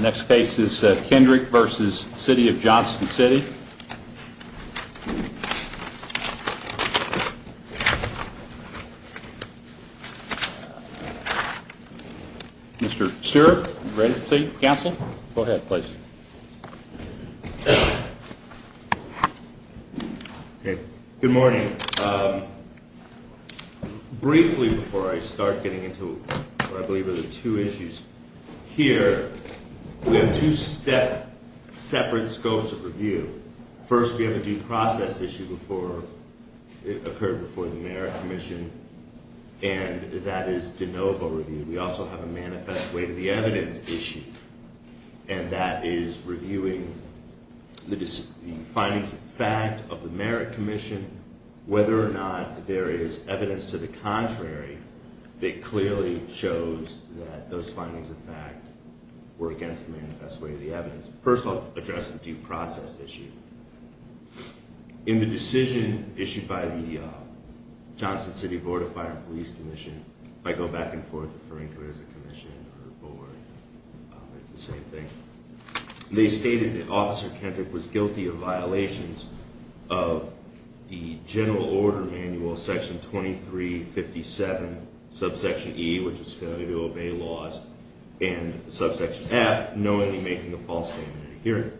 Next case is Kendrick v. City of Johnston City Mr. Stewart, are you ready to proceed to counsel? Go ahead, please. Good morning. Briefly, before I start getting into what I believe are the two issues here, we have two separate scopes of review. First, we have a due process issue before it occurred before the Mayor and Commission, and that is de novo review. We also have a manifest way to the evidence issue, and that is reviewing the findings of fact of the Merrick Commission, whether or not there is evidence to the contrary that clearly shows that those findings of fact were against the manifest way to the evidence. First, I'll address the due process issue. In the decision issued by the Johnston City Board of Fire and Police Commission, I go back and forth referring to it as a commission or a board, it's the same thing. They stated that Officer Kendrick was guilty of violations of the general order manual, section 2357, subsection E, which is failure to obey laws, and subsection F, knowingly making a false statement in a hearing.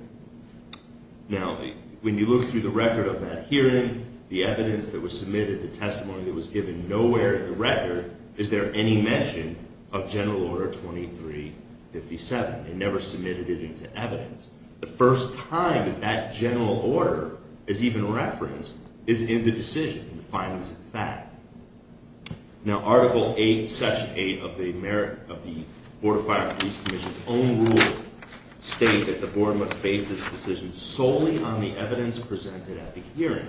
Now, when you look through the record of that hearing, the evidence that was submitted, the testimony that was given, nowhere in the record is there any mention of general order 2357. They never submitted it into evidence. The first time that that general order is even referenced is in the decision, in the findings of fact. Now, article 8, section 8 of the Merrick, of the Board of Fire and Police Commission's own rule, state that the board must base this decision solely on the evidence presented at the hearing.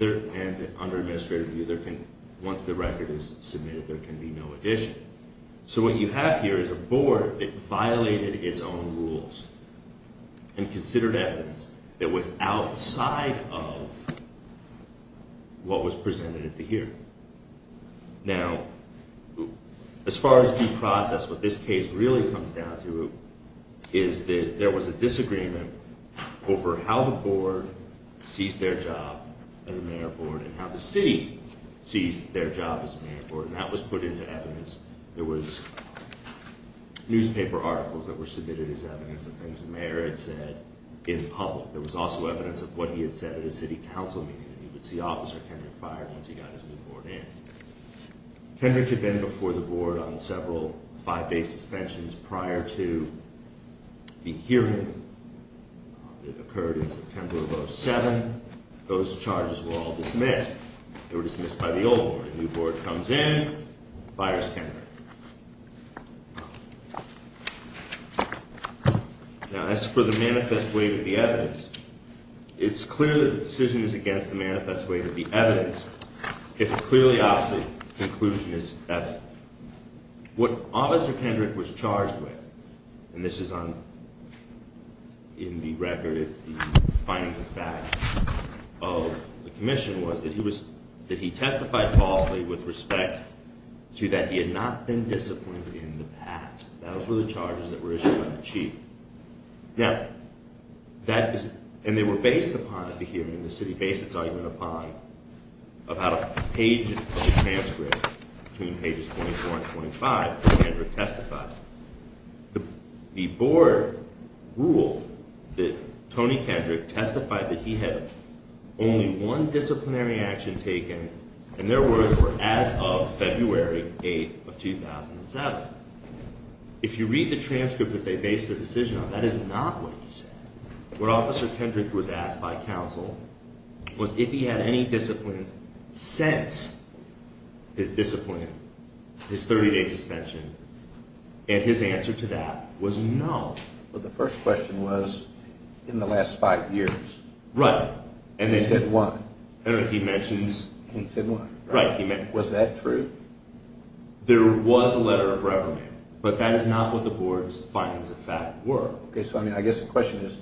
And under administrative review, once the record is submitted, there can be no addition. So what you have here is a board that violated its own rules and considered evidence that was outside of what was presented at the hearing. Now, as far as due process, what this case really comes down to is that there was a disagreement over how the board sees their job as a mayor board and how the city sees their job as a mayor board. And that was put into evidence. There was newspaper articles that were submitted as evidence of things the mayor had said in public. There was also evidence of what he had said at a city council meeting. You would see Officer Kendrick fired once he got his new board in. Kendrick had been before the board on several five-day suspensions prior to the hearing. It occurred in September of 2007. Those charges were all dismissed. They were dismissed by the old board. A new board comes in, fires Kendrick. Now, as for the manifest way to be evidence, it's clear that the decision is against the manifest way to be evidence if a clearly opposite conclusion is evident. What Officer Kendrick was charged with, and this is in the record, it's the findings of fact of the commission, was that he testified falsely with respect to that he had not been disciplined in the past. Those were the charges that were issued by the chief. Now, that is, and they were based upon at the hearing, the city based its argument upon, about a page of the transcript, between pages 24 and 25, that Kendrick testified. The board ruled that Tony Kendrick testified that he had only one disciplinary action taken, and their words were, as of February 8th of 2007. If you read the transcript that they based their decision on, that is not what he said. What Officer Kendrick was asked by counsel was if he had any disciplines since his discipline, his 30-day suspension, and his answer to that was no. Well, the first question was, in the last five years. Right. He said one. I don't know if he mentions. He said one. Right. Was that true? There was a letter of reverend, but that is not what the board's findings of fact were. Okay, so I guess the question is,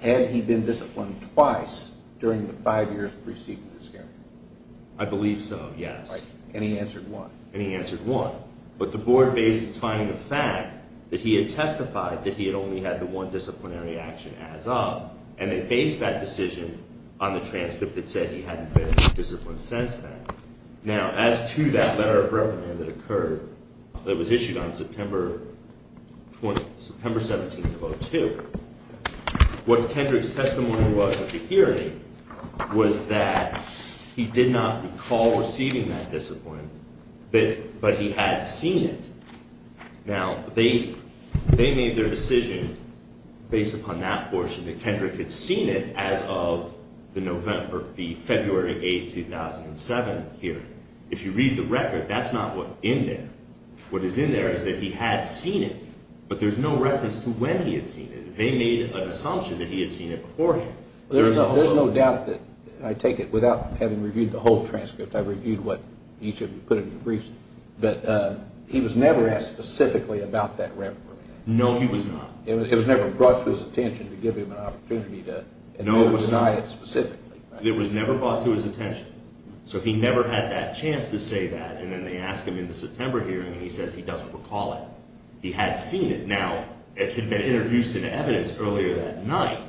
had he been disciplined twice during the five years preceding the scandal? I believe so, yes. And he answered one. And he answered one. But the board based its finding of fact that he had testified that he had only had the one disciplinary action as of, and they based that decision on the transcript that said he hadn't been disciplined since then. Now, as to that letter of reverend that occurred, that was issued on September 17th of 2002, what Kendrick's testimony was at the hearing was that he did not recall receiving that discipline, but he had seen it. Now, they made their decision based upon that portion that Kendrick had seen it as of the February 8th, 2007 hearing. If you read the record, that's not what's in there. What is in there is that he had seen it, but there's no reference to when he had seen it. They made an assumption that he had seen it beforehand. There's no doubt that, I take it, without having reviewed the whole transcript, I reviewed what each of you put in your briefs, that he was never asked specifically about that reverend. No, he was not. It was never brought to his attention to give him an opportunity to deny it specifically. It was never brought to his attention. So he never had that chance to say that, and then they ask him in the September hearing, and he says he doesn't recall it. He had seen it. Now, it had been introduced into evidence earlier that night,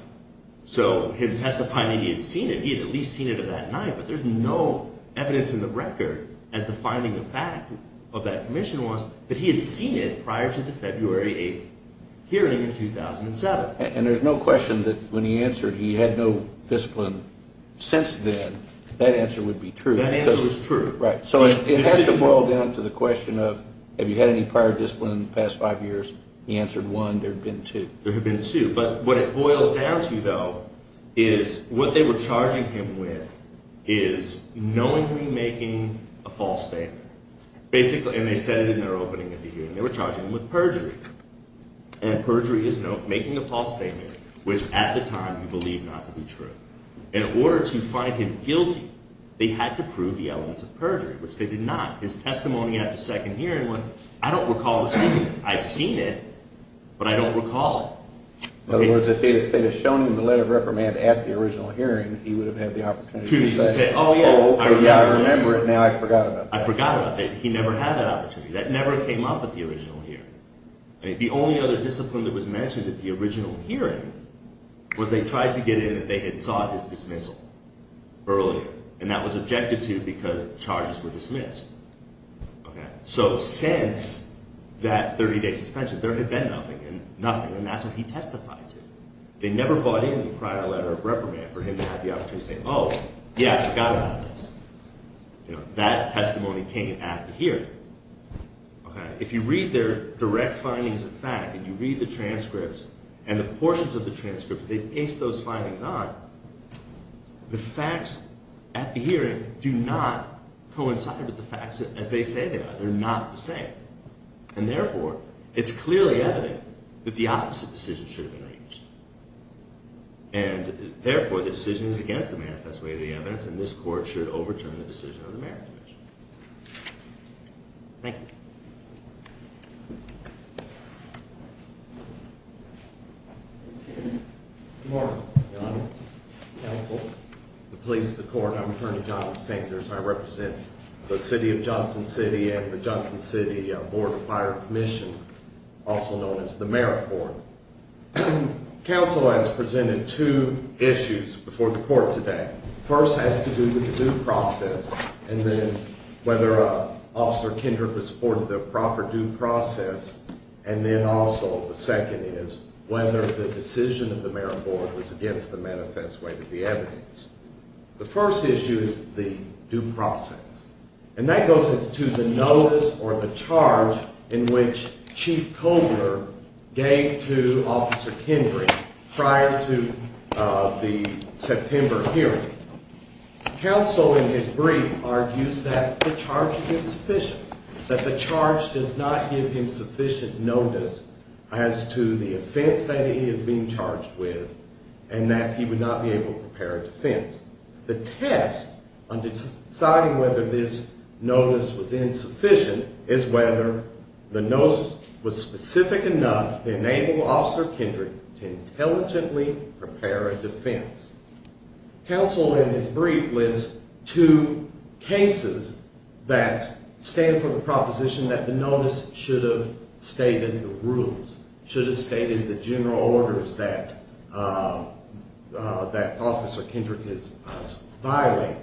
so him testifying that he had seen it, he had at least seen it of that night, but there's no evidence in the record as to finding the fact of that commission was that he had seen it prior to the February 8th hearing in 2007. And there's no question that when he answered, he had no discipline since then. That answer would be true. That answer is true. Right. So it has to boil down to the question of, have you had any prior discipline in the past five years? He answered one. There have been two. There have been two. But what it boils down to, though, is what they were charging him with is knowingly making a false statement. And they said it in their opening of the hearing. They were charging him with perjury. And perjury is making a false statement, which at the time he believed not to be true. In order to find him guilty, they had to prove the elements of perjury, which they did not. His testimony at the second hearing was, I don't recall seeing this. I've seen it, but I don't recall it. In other words, if they had shown him the letter of reprimand at the original hearing, he would have had the opportunity to say, oh, yeah, I remember it. Now I forgot about that. I forgot about that. He never had that opportunity. That never came up at the original hearing. The only other discipline that was mentioned at the original hearing was they tried to get in that they had sought his dismissal earlier. And that was objected to because charges were dismissed. So since that 30-day suspension, there had been nothing and nothing. And that's what he testified to. They never brought in the prior letter of reprimand for him to have the opportunity to say, oh, yeah, I forgot about this. That testimony came after hearing. If you read their direct findings of fact and you read the transcripts and the portions of the transcripts they based those findings on, the facts at the hearing do not coincide with the facts as they say they are. They're not the same. And therefore, it's clearly evident that the opposite decision should have been reached. And therefore, the decision is against the manifest way of the evidence. And this court should overturn the decision of the Mayoral Commission. Thank you. Good morning, Your Honor, counsel, the police, the court. I'm Attorney Jonathan Sankers. I represent the city of Johnson City and the Johnson City Board of Fire and Commission, also known as the Mayoral Board. Counsel has presented two issues before the court today. First has to do with the due process and then whether Officer Kendrick was supported the proper due process. And then also the second is whether the decision of the mayoral board was against the manifest way of the evidence. The first issue is the due process. And that goes as to the notice or the charge in which Chief Kovner gave to Officer Kendrick prior to the September hearing. Counsel in his brief argues that the charge is insufficient, that the charge does not give him sufficient notice as to the offense that he is being charged with and that he would not be able to prepare a defense. The test on deciding whether this notice was insufficient is whether the notice was specific enough to enable Officer Kendrick to intelligently prepare a defense. Counsel in his brief lists two cases that stand for the proposition that the notice should have stated the rules, should have stated the general orders that Officer Kendrick is violating.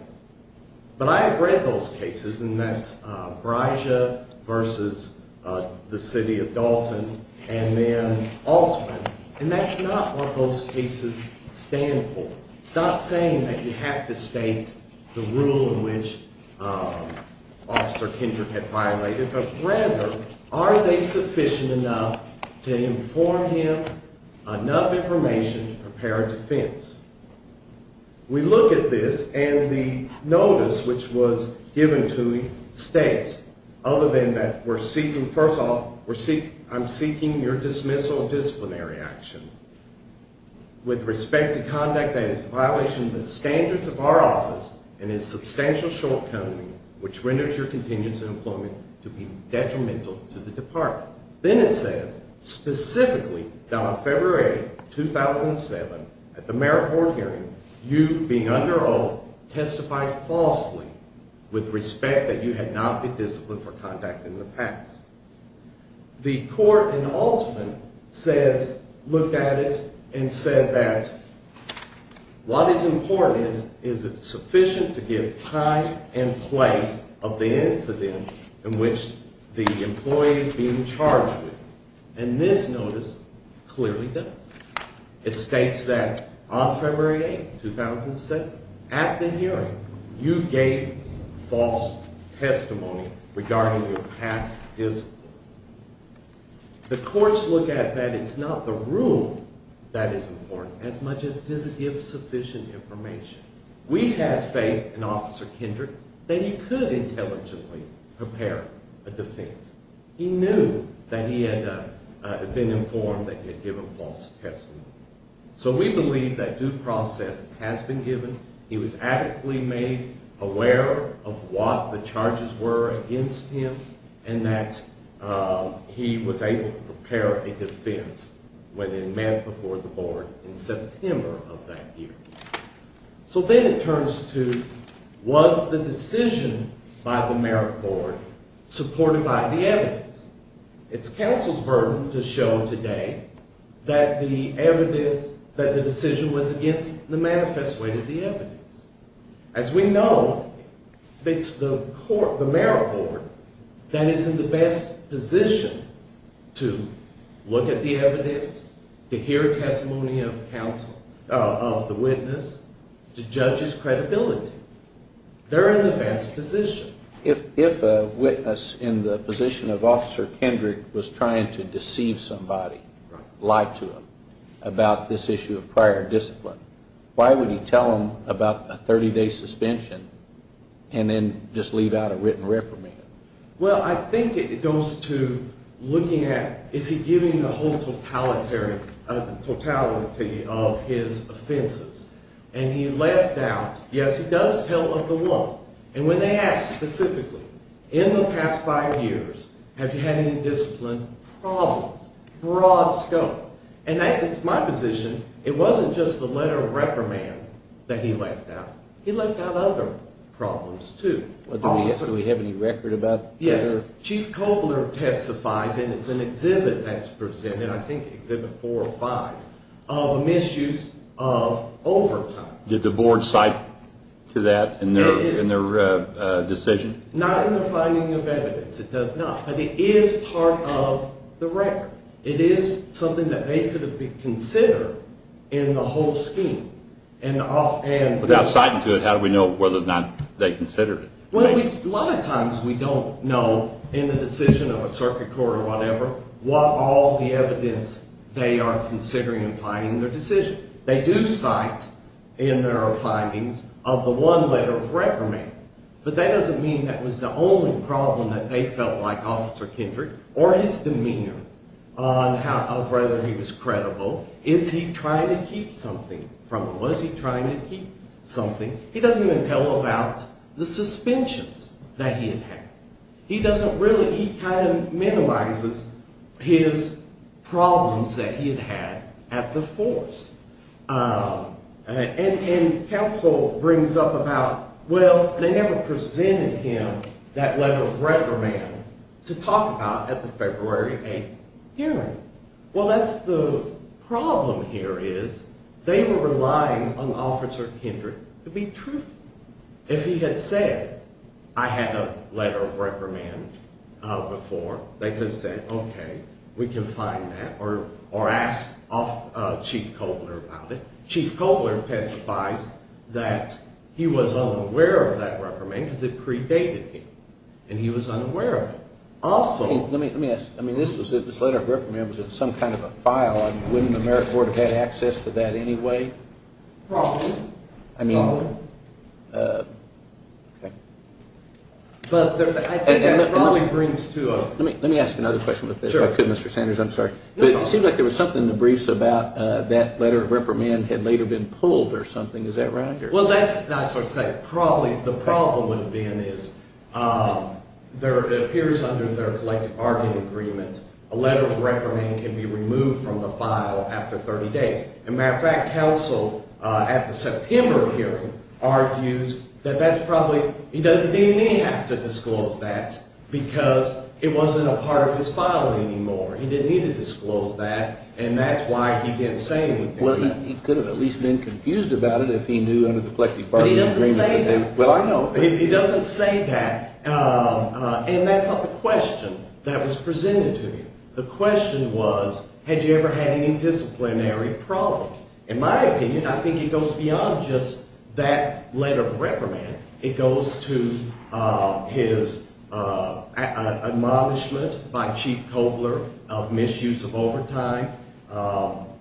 But I have read those cases, and that's Breischa versus the city of Dalton and then Altman. And that's not what those cases stand for. It's not saying that you have to state the rule in which Officer Kendrick had violated, but rather are they sufficient enough to inform him enough information to prepare a defense. We look at this and the notice which was given to the states other than that we're seeking, first off, I'm seeking your dismissal of disciplinary action. With respect to conduct that is a violation of the standards of our office and is a substantial shortcoming which renders your contingency employment to be detrimental to the department. Then it says, specifically, down on February 8, 2007, at the merit court hearing, you being under oath testify falsely with respect that you had not been disciplined for conduct in the past. The court in Altman says, looked at it and said that what is important is is it sufficient to give time and place of the incident in which the employee is being charged with. And this notice clearly does. It states that on February 8, 2007, at the hearing, you gave false testimony regarding your past discipline. The courts look at that it's not the rule that is important as much as does it give sufficient information. We have faith in Officer Kendrick that he could intelligently prepare a defense. He knew that he had been informed that he had given false testimony. So we believe that due process has been given. He was adequately made aware of what the charges were against him and that he was able to prepare a defense when it met before the board in September of that year. So then it turns to, was the decision by the merit board supported by the evidence? It's counsel's burden to show today that the evidence, that the decision was against the manifest way to the evidence. As we know, it's the court, the merit board that is in the best position to look at the evidence, to hear testimony of counsel, of the witness, to judge his credibility. They're in the best position. If a witness in the position of Officer Kendrick was trying to deceive somebody, lie to them about this issue of prior discipline, why would he tell them about a 30-day suspension and then just leave out a written reprimand? Well, I think it goes to looking at, is he giving the whole totality of his offenses? And he left out, yes, he does tell of the law. And when they ask specifically, in the past five years, have you had any discipline problems? Broad scope. And that is my position. It wasn't just the letter of reprimand that he left out. He left out other problems, too. Do we have any record about that? Yes. Chief Kobler testifies, and it's an exhibit that's presented, I think Exhibit 405, of a misuse of overtime. Did the board cite to that in their decision? Not in their finding of evidence. It does not. But it is part of the record. It is something that they could have considered in the whole scheme. Without citing to it, how do we know whether or not they considered it? Well, a lot of times we don't know in the decision of a circuit court or whatever what all the evidence they are considering in finding their decision. They do cite in their findings of the one letter of reprimand. But that doesn't mean that was the only problem that they felt like Officer Kendrick or his demeanor of whether he was credible. Is he trying to keep something from them? Was he trying to keep something? He doesn't even tell about the suspensions that he had had. He doesn't really, he kind of minimizes his problems that he had had at the force. And counsel brings up about, well, they never presented him that letter of reprimand to talk about at the February 8th hearing. Well, that's the problem here is they were relying on Officer Kendrick to be truthful. If he had said, I had a letter of reprimand before, they could have said, okay, we can find that or ask Chief Kobler about it. Chief Kobler testifies that he was unaware of that reprimand because it predated him. And he was unaware of it. Also… Let me ask. I mean, this letter of reprimand was in some kind of a file. Wouldn't the merit board have had access to that anyway? Probably. I mean… Probably. Okay. But I think that probably brings to a… Let me ask another question with this. Sure. If I could, Mr. Sanders, I'm sorry. No problem. But it seems like there was something in the briefs about that letter of reprimand had later been pulled or something. Is that right? Well, that's what I was trying to say. Probably. The problem would have been is there appears under their collective bargaining agreement a letter of reprimand can be removed from the file after 30 days. As a matter of fact, counsel at the September hearing argues that that's probably… He doesn't even have to disclose that because it wasn't a part of his file anymore. He didn't need to disclose that. And that's why he didn't say anything. Well, he could have at least been confused about it if he knew under the collective bargaining agreement… But he doesn't say that. Well, I know. But he doesn't say that. And that's not the question that was presented to me. The question was had you ever had any disciplinary problems. In my opinion, I think it goes beyond just that letter of reprimand. It goes to his admonishment by Chief Kobler of misuse of overtime.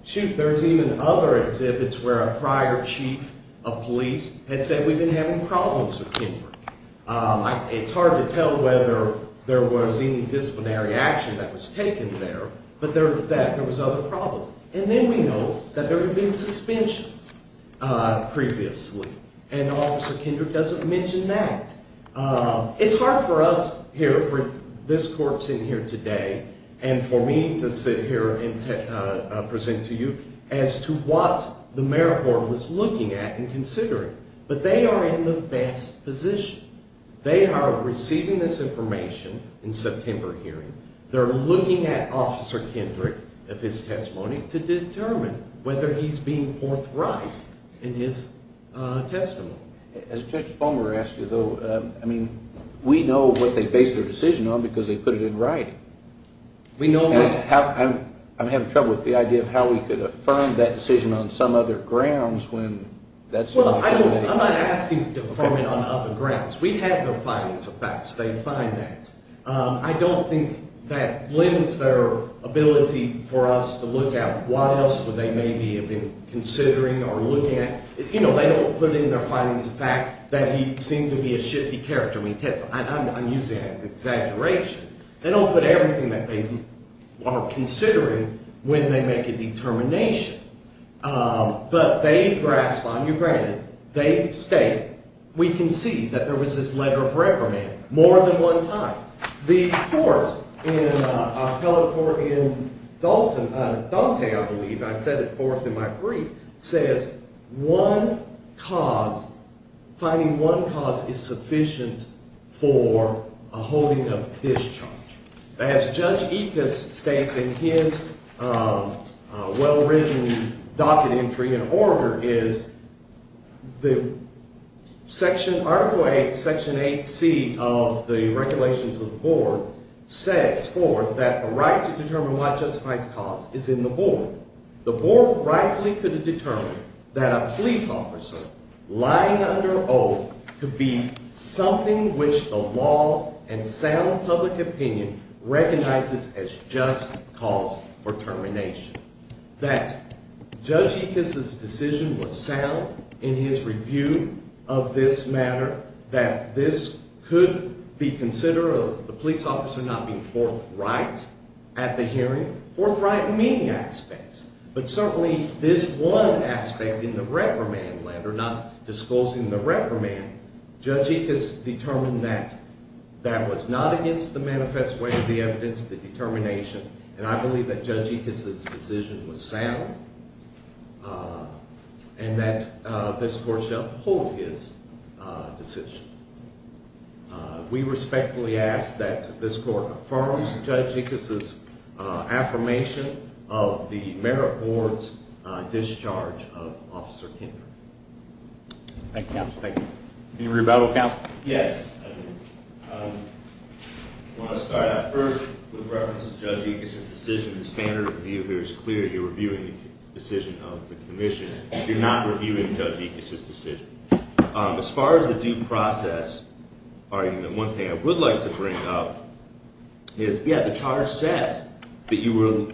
Shoot, there's even other exhibits where a prior chief of police had said we've been having problems with Kenford. It's hard to tell whether there was any disciplinary action that was taken there, but that there was other problems. And then we know that there had been suspensions previously. And Officer Kendrick doesn't mention that. It's hard for us here, for this court sitting here today, and for me to sit here and present to you as to what the merit board was looking at and considering. But they are in the best position. They are receiving this information in September hearing. They're looking at Officer Kendrick of his testimony to determine whether he's being forthright in his testimony. As Judge Fulmer asked you, though, I mean, we know what they based their decision on because they put it in writing. And I'm having trouble with the idea of how we could affirm that decision on some other grounds when that's not the case. Well, I'm not asking to affirm it on other grounds. We have their findings of facts. They find that. I don't think that limits their ability for us to look at what else would they maybe have been considering or looking at. You know, they don't put in their findings of fact that he seemed to be a shifty character when he testified. I'm using that as an exaggeration. They don't put everything that they are considering when they make a determination. But they grasp on you granted. They state. We can see that there was this letter of reprimand more than one time. The court, a fellow court in Dalton, Dalton, I believe, I said it forth in my brief, says one cause, finding one cause is sufficient for a holding of discharge. As Judge Epus states in his well-written docket entry in order, is the section, article 8, section 8C of the regulations of the board says forth that the right to determine what justifies cause is in the board. The board rightly could have determined that a police officer lying under oath could be something which the law and sound public opinion recognizes as just cause for termination. That Judge Epus' decision was sound in his review of this matter. That this could be considered the police officer not being forthright at the hearing. Forthright in many aspects. But certainly this one aspect in the reprimand letter, not disclosing the reprimand, Judge Epus determined that that was not against the manifest way of the evidence, the determination. And I believe that Judge Epus' decision was sound. And that this court shall uphold his decision. We respectfully ask that this court affirms Judge Epus' affirmation of the merit board's discharge of Officer Kendrick. Thank you, counsel. Any rebuttal, counsel? Yes. I want to start out first with reference to Judge Epus' decision. The standard of review here is clear. You're reviewing the decision of the commission. You're not reviewing Judge Epus' decision. As far as the due process argument, one thing I would like to bring up is, yeah, the charge says that you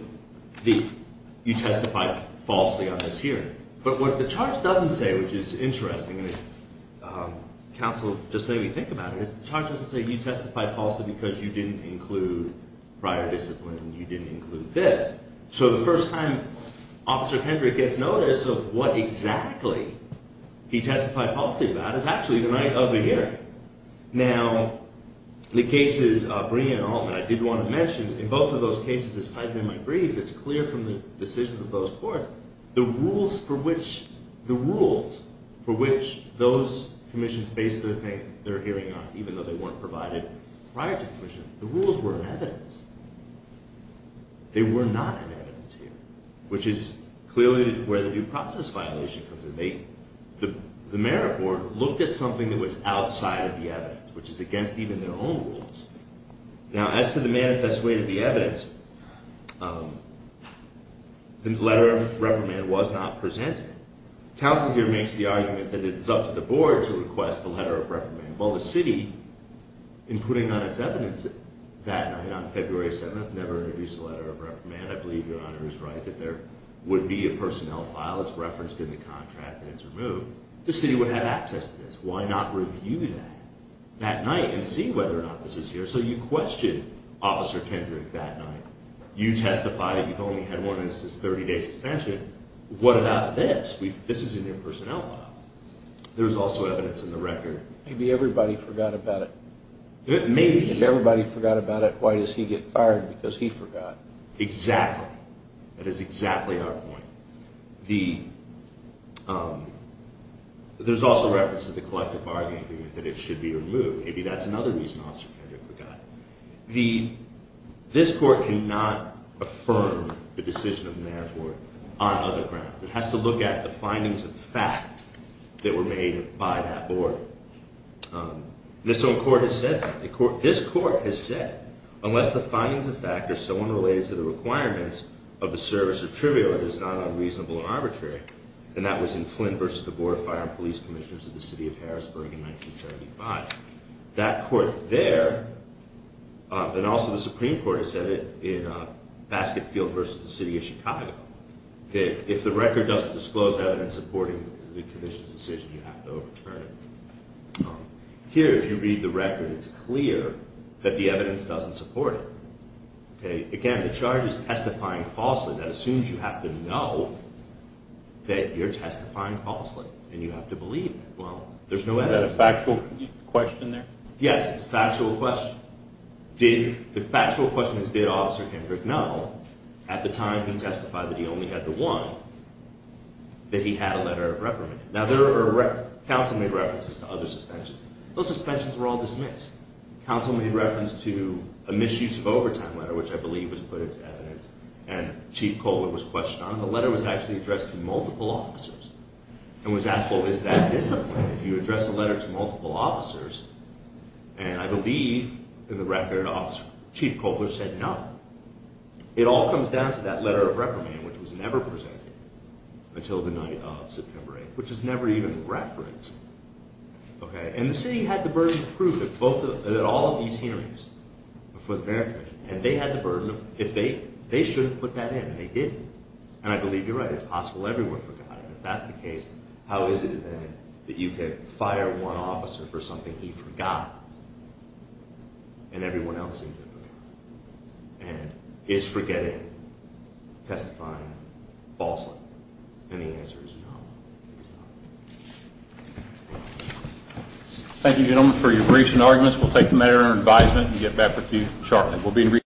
testified falsely on this hearing. But what the charge doesn't say, which is interesting, and counsel just made me think about it, is the charge doesn't say you testified falsely because you didn't include prior discipline. You didn't include this. So the first time Officer Kendrick gets notice of what exactly he testified falsely about is actually the night of the hearing. Now, the cases Brea and Altman, I did want to mention, in both of those cases, as cited in my brief, it's clear from the decisions of both courts, the rules for which those commissions based their hearing on, even though they weren't provided prior to the commission, the rules were in evidence. They were not in evidence here, which is clearly where the due process violation comes in. The merit board looked at something that was outside of the evidence, which is against even their own rules. Now, as to the manifest way to the evidence, the letter of reprimand was not presented. Counsel here makes the argument that it's up to the board to request the letter of reprimand. Well, the city, in putting on its evidence that night on February 7th, never introduced a letter of reprimand. I believe your Honor is right that there would be a personnel file that's referenced in the contract and it's removed. The city would have access to this. Why not review that that night and see whether or not this is here? So you question Officer Kendrick that night. You testified that you've only had one and it's a 30-day suspension. What about this? This is in your personnel file. There's also evidence in the record. Maybe everybody forgot about it. Maybe. If everybody forgot about it, why does he get fired? Because he forgot. Exactly. That is exactly our point. There's also reference to the collective bargaining agreement that it should be removed. Maybe that's another reason Officer Kendrick forgot. This court cannot affirm the decision of the merit board on other grounds. It has to look at the findings of fact that were made by that board. This court has said, unless the findings of fact are so unrelated to the requirements of the service of trivial that it's not unreasonable or arbitrary, and that was in Flynn v. The Board of Fire and Police Commissioners of the City of Harrisburg in 1975, that court there, and also the Supreme Court has said it in Basketfield v. The City of Chicago, if the record doesn't disclose evidence supporting the commission's decision, you have to overturn it. Here, if you read the record, it's clear that the evidence doesn't support it. Again, the charge is testifying falsely. That assumes you have to know that you're testifying falsely and you have to believe it. Well, there's no evidence. Is that a factual question there? Yes, it's a factual question. The factual question is, did Officer Hendrick know, at the time he testified that he only had the one, that he had a letter of reprimand? Now, counsel made references to other suspensions. Those suspensions were all dismissed. Counsel made reference to a misuse of overtime letter, which I believe was put into evidence, and Chief Colwood was questioned on it. The letter was actually addressed to multiple officers and was asked, well, is that discipline if you address a letter to multiple officers? And I believe, in the record, Officer Chief Colwood said no. It all comes down to that letter of reprimand, which was never presented until the night of September 8th, which was never even referenced. And the city had the burden of proof at all of these hearings for the merit commission. And they had the burden of, if they, they shouldn't have put that in, and they didn't. And I believe you're right. It's possible everyone forgot it. If that's the case, how is it, then, that you could fire one officer for something he forgot and everyone else didn't? And is forgetting testifying falsehood? And the answer is no, it's not. Thank you, gentlemen, for your briefs and arguments. We'll take the matter under advisement and get back with you shortly.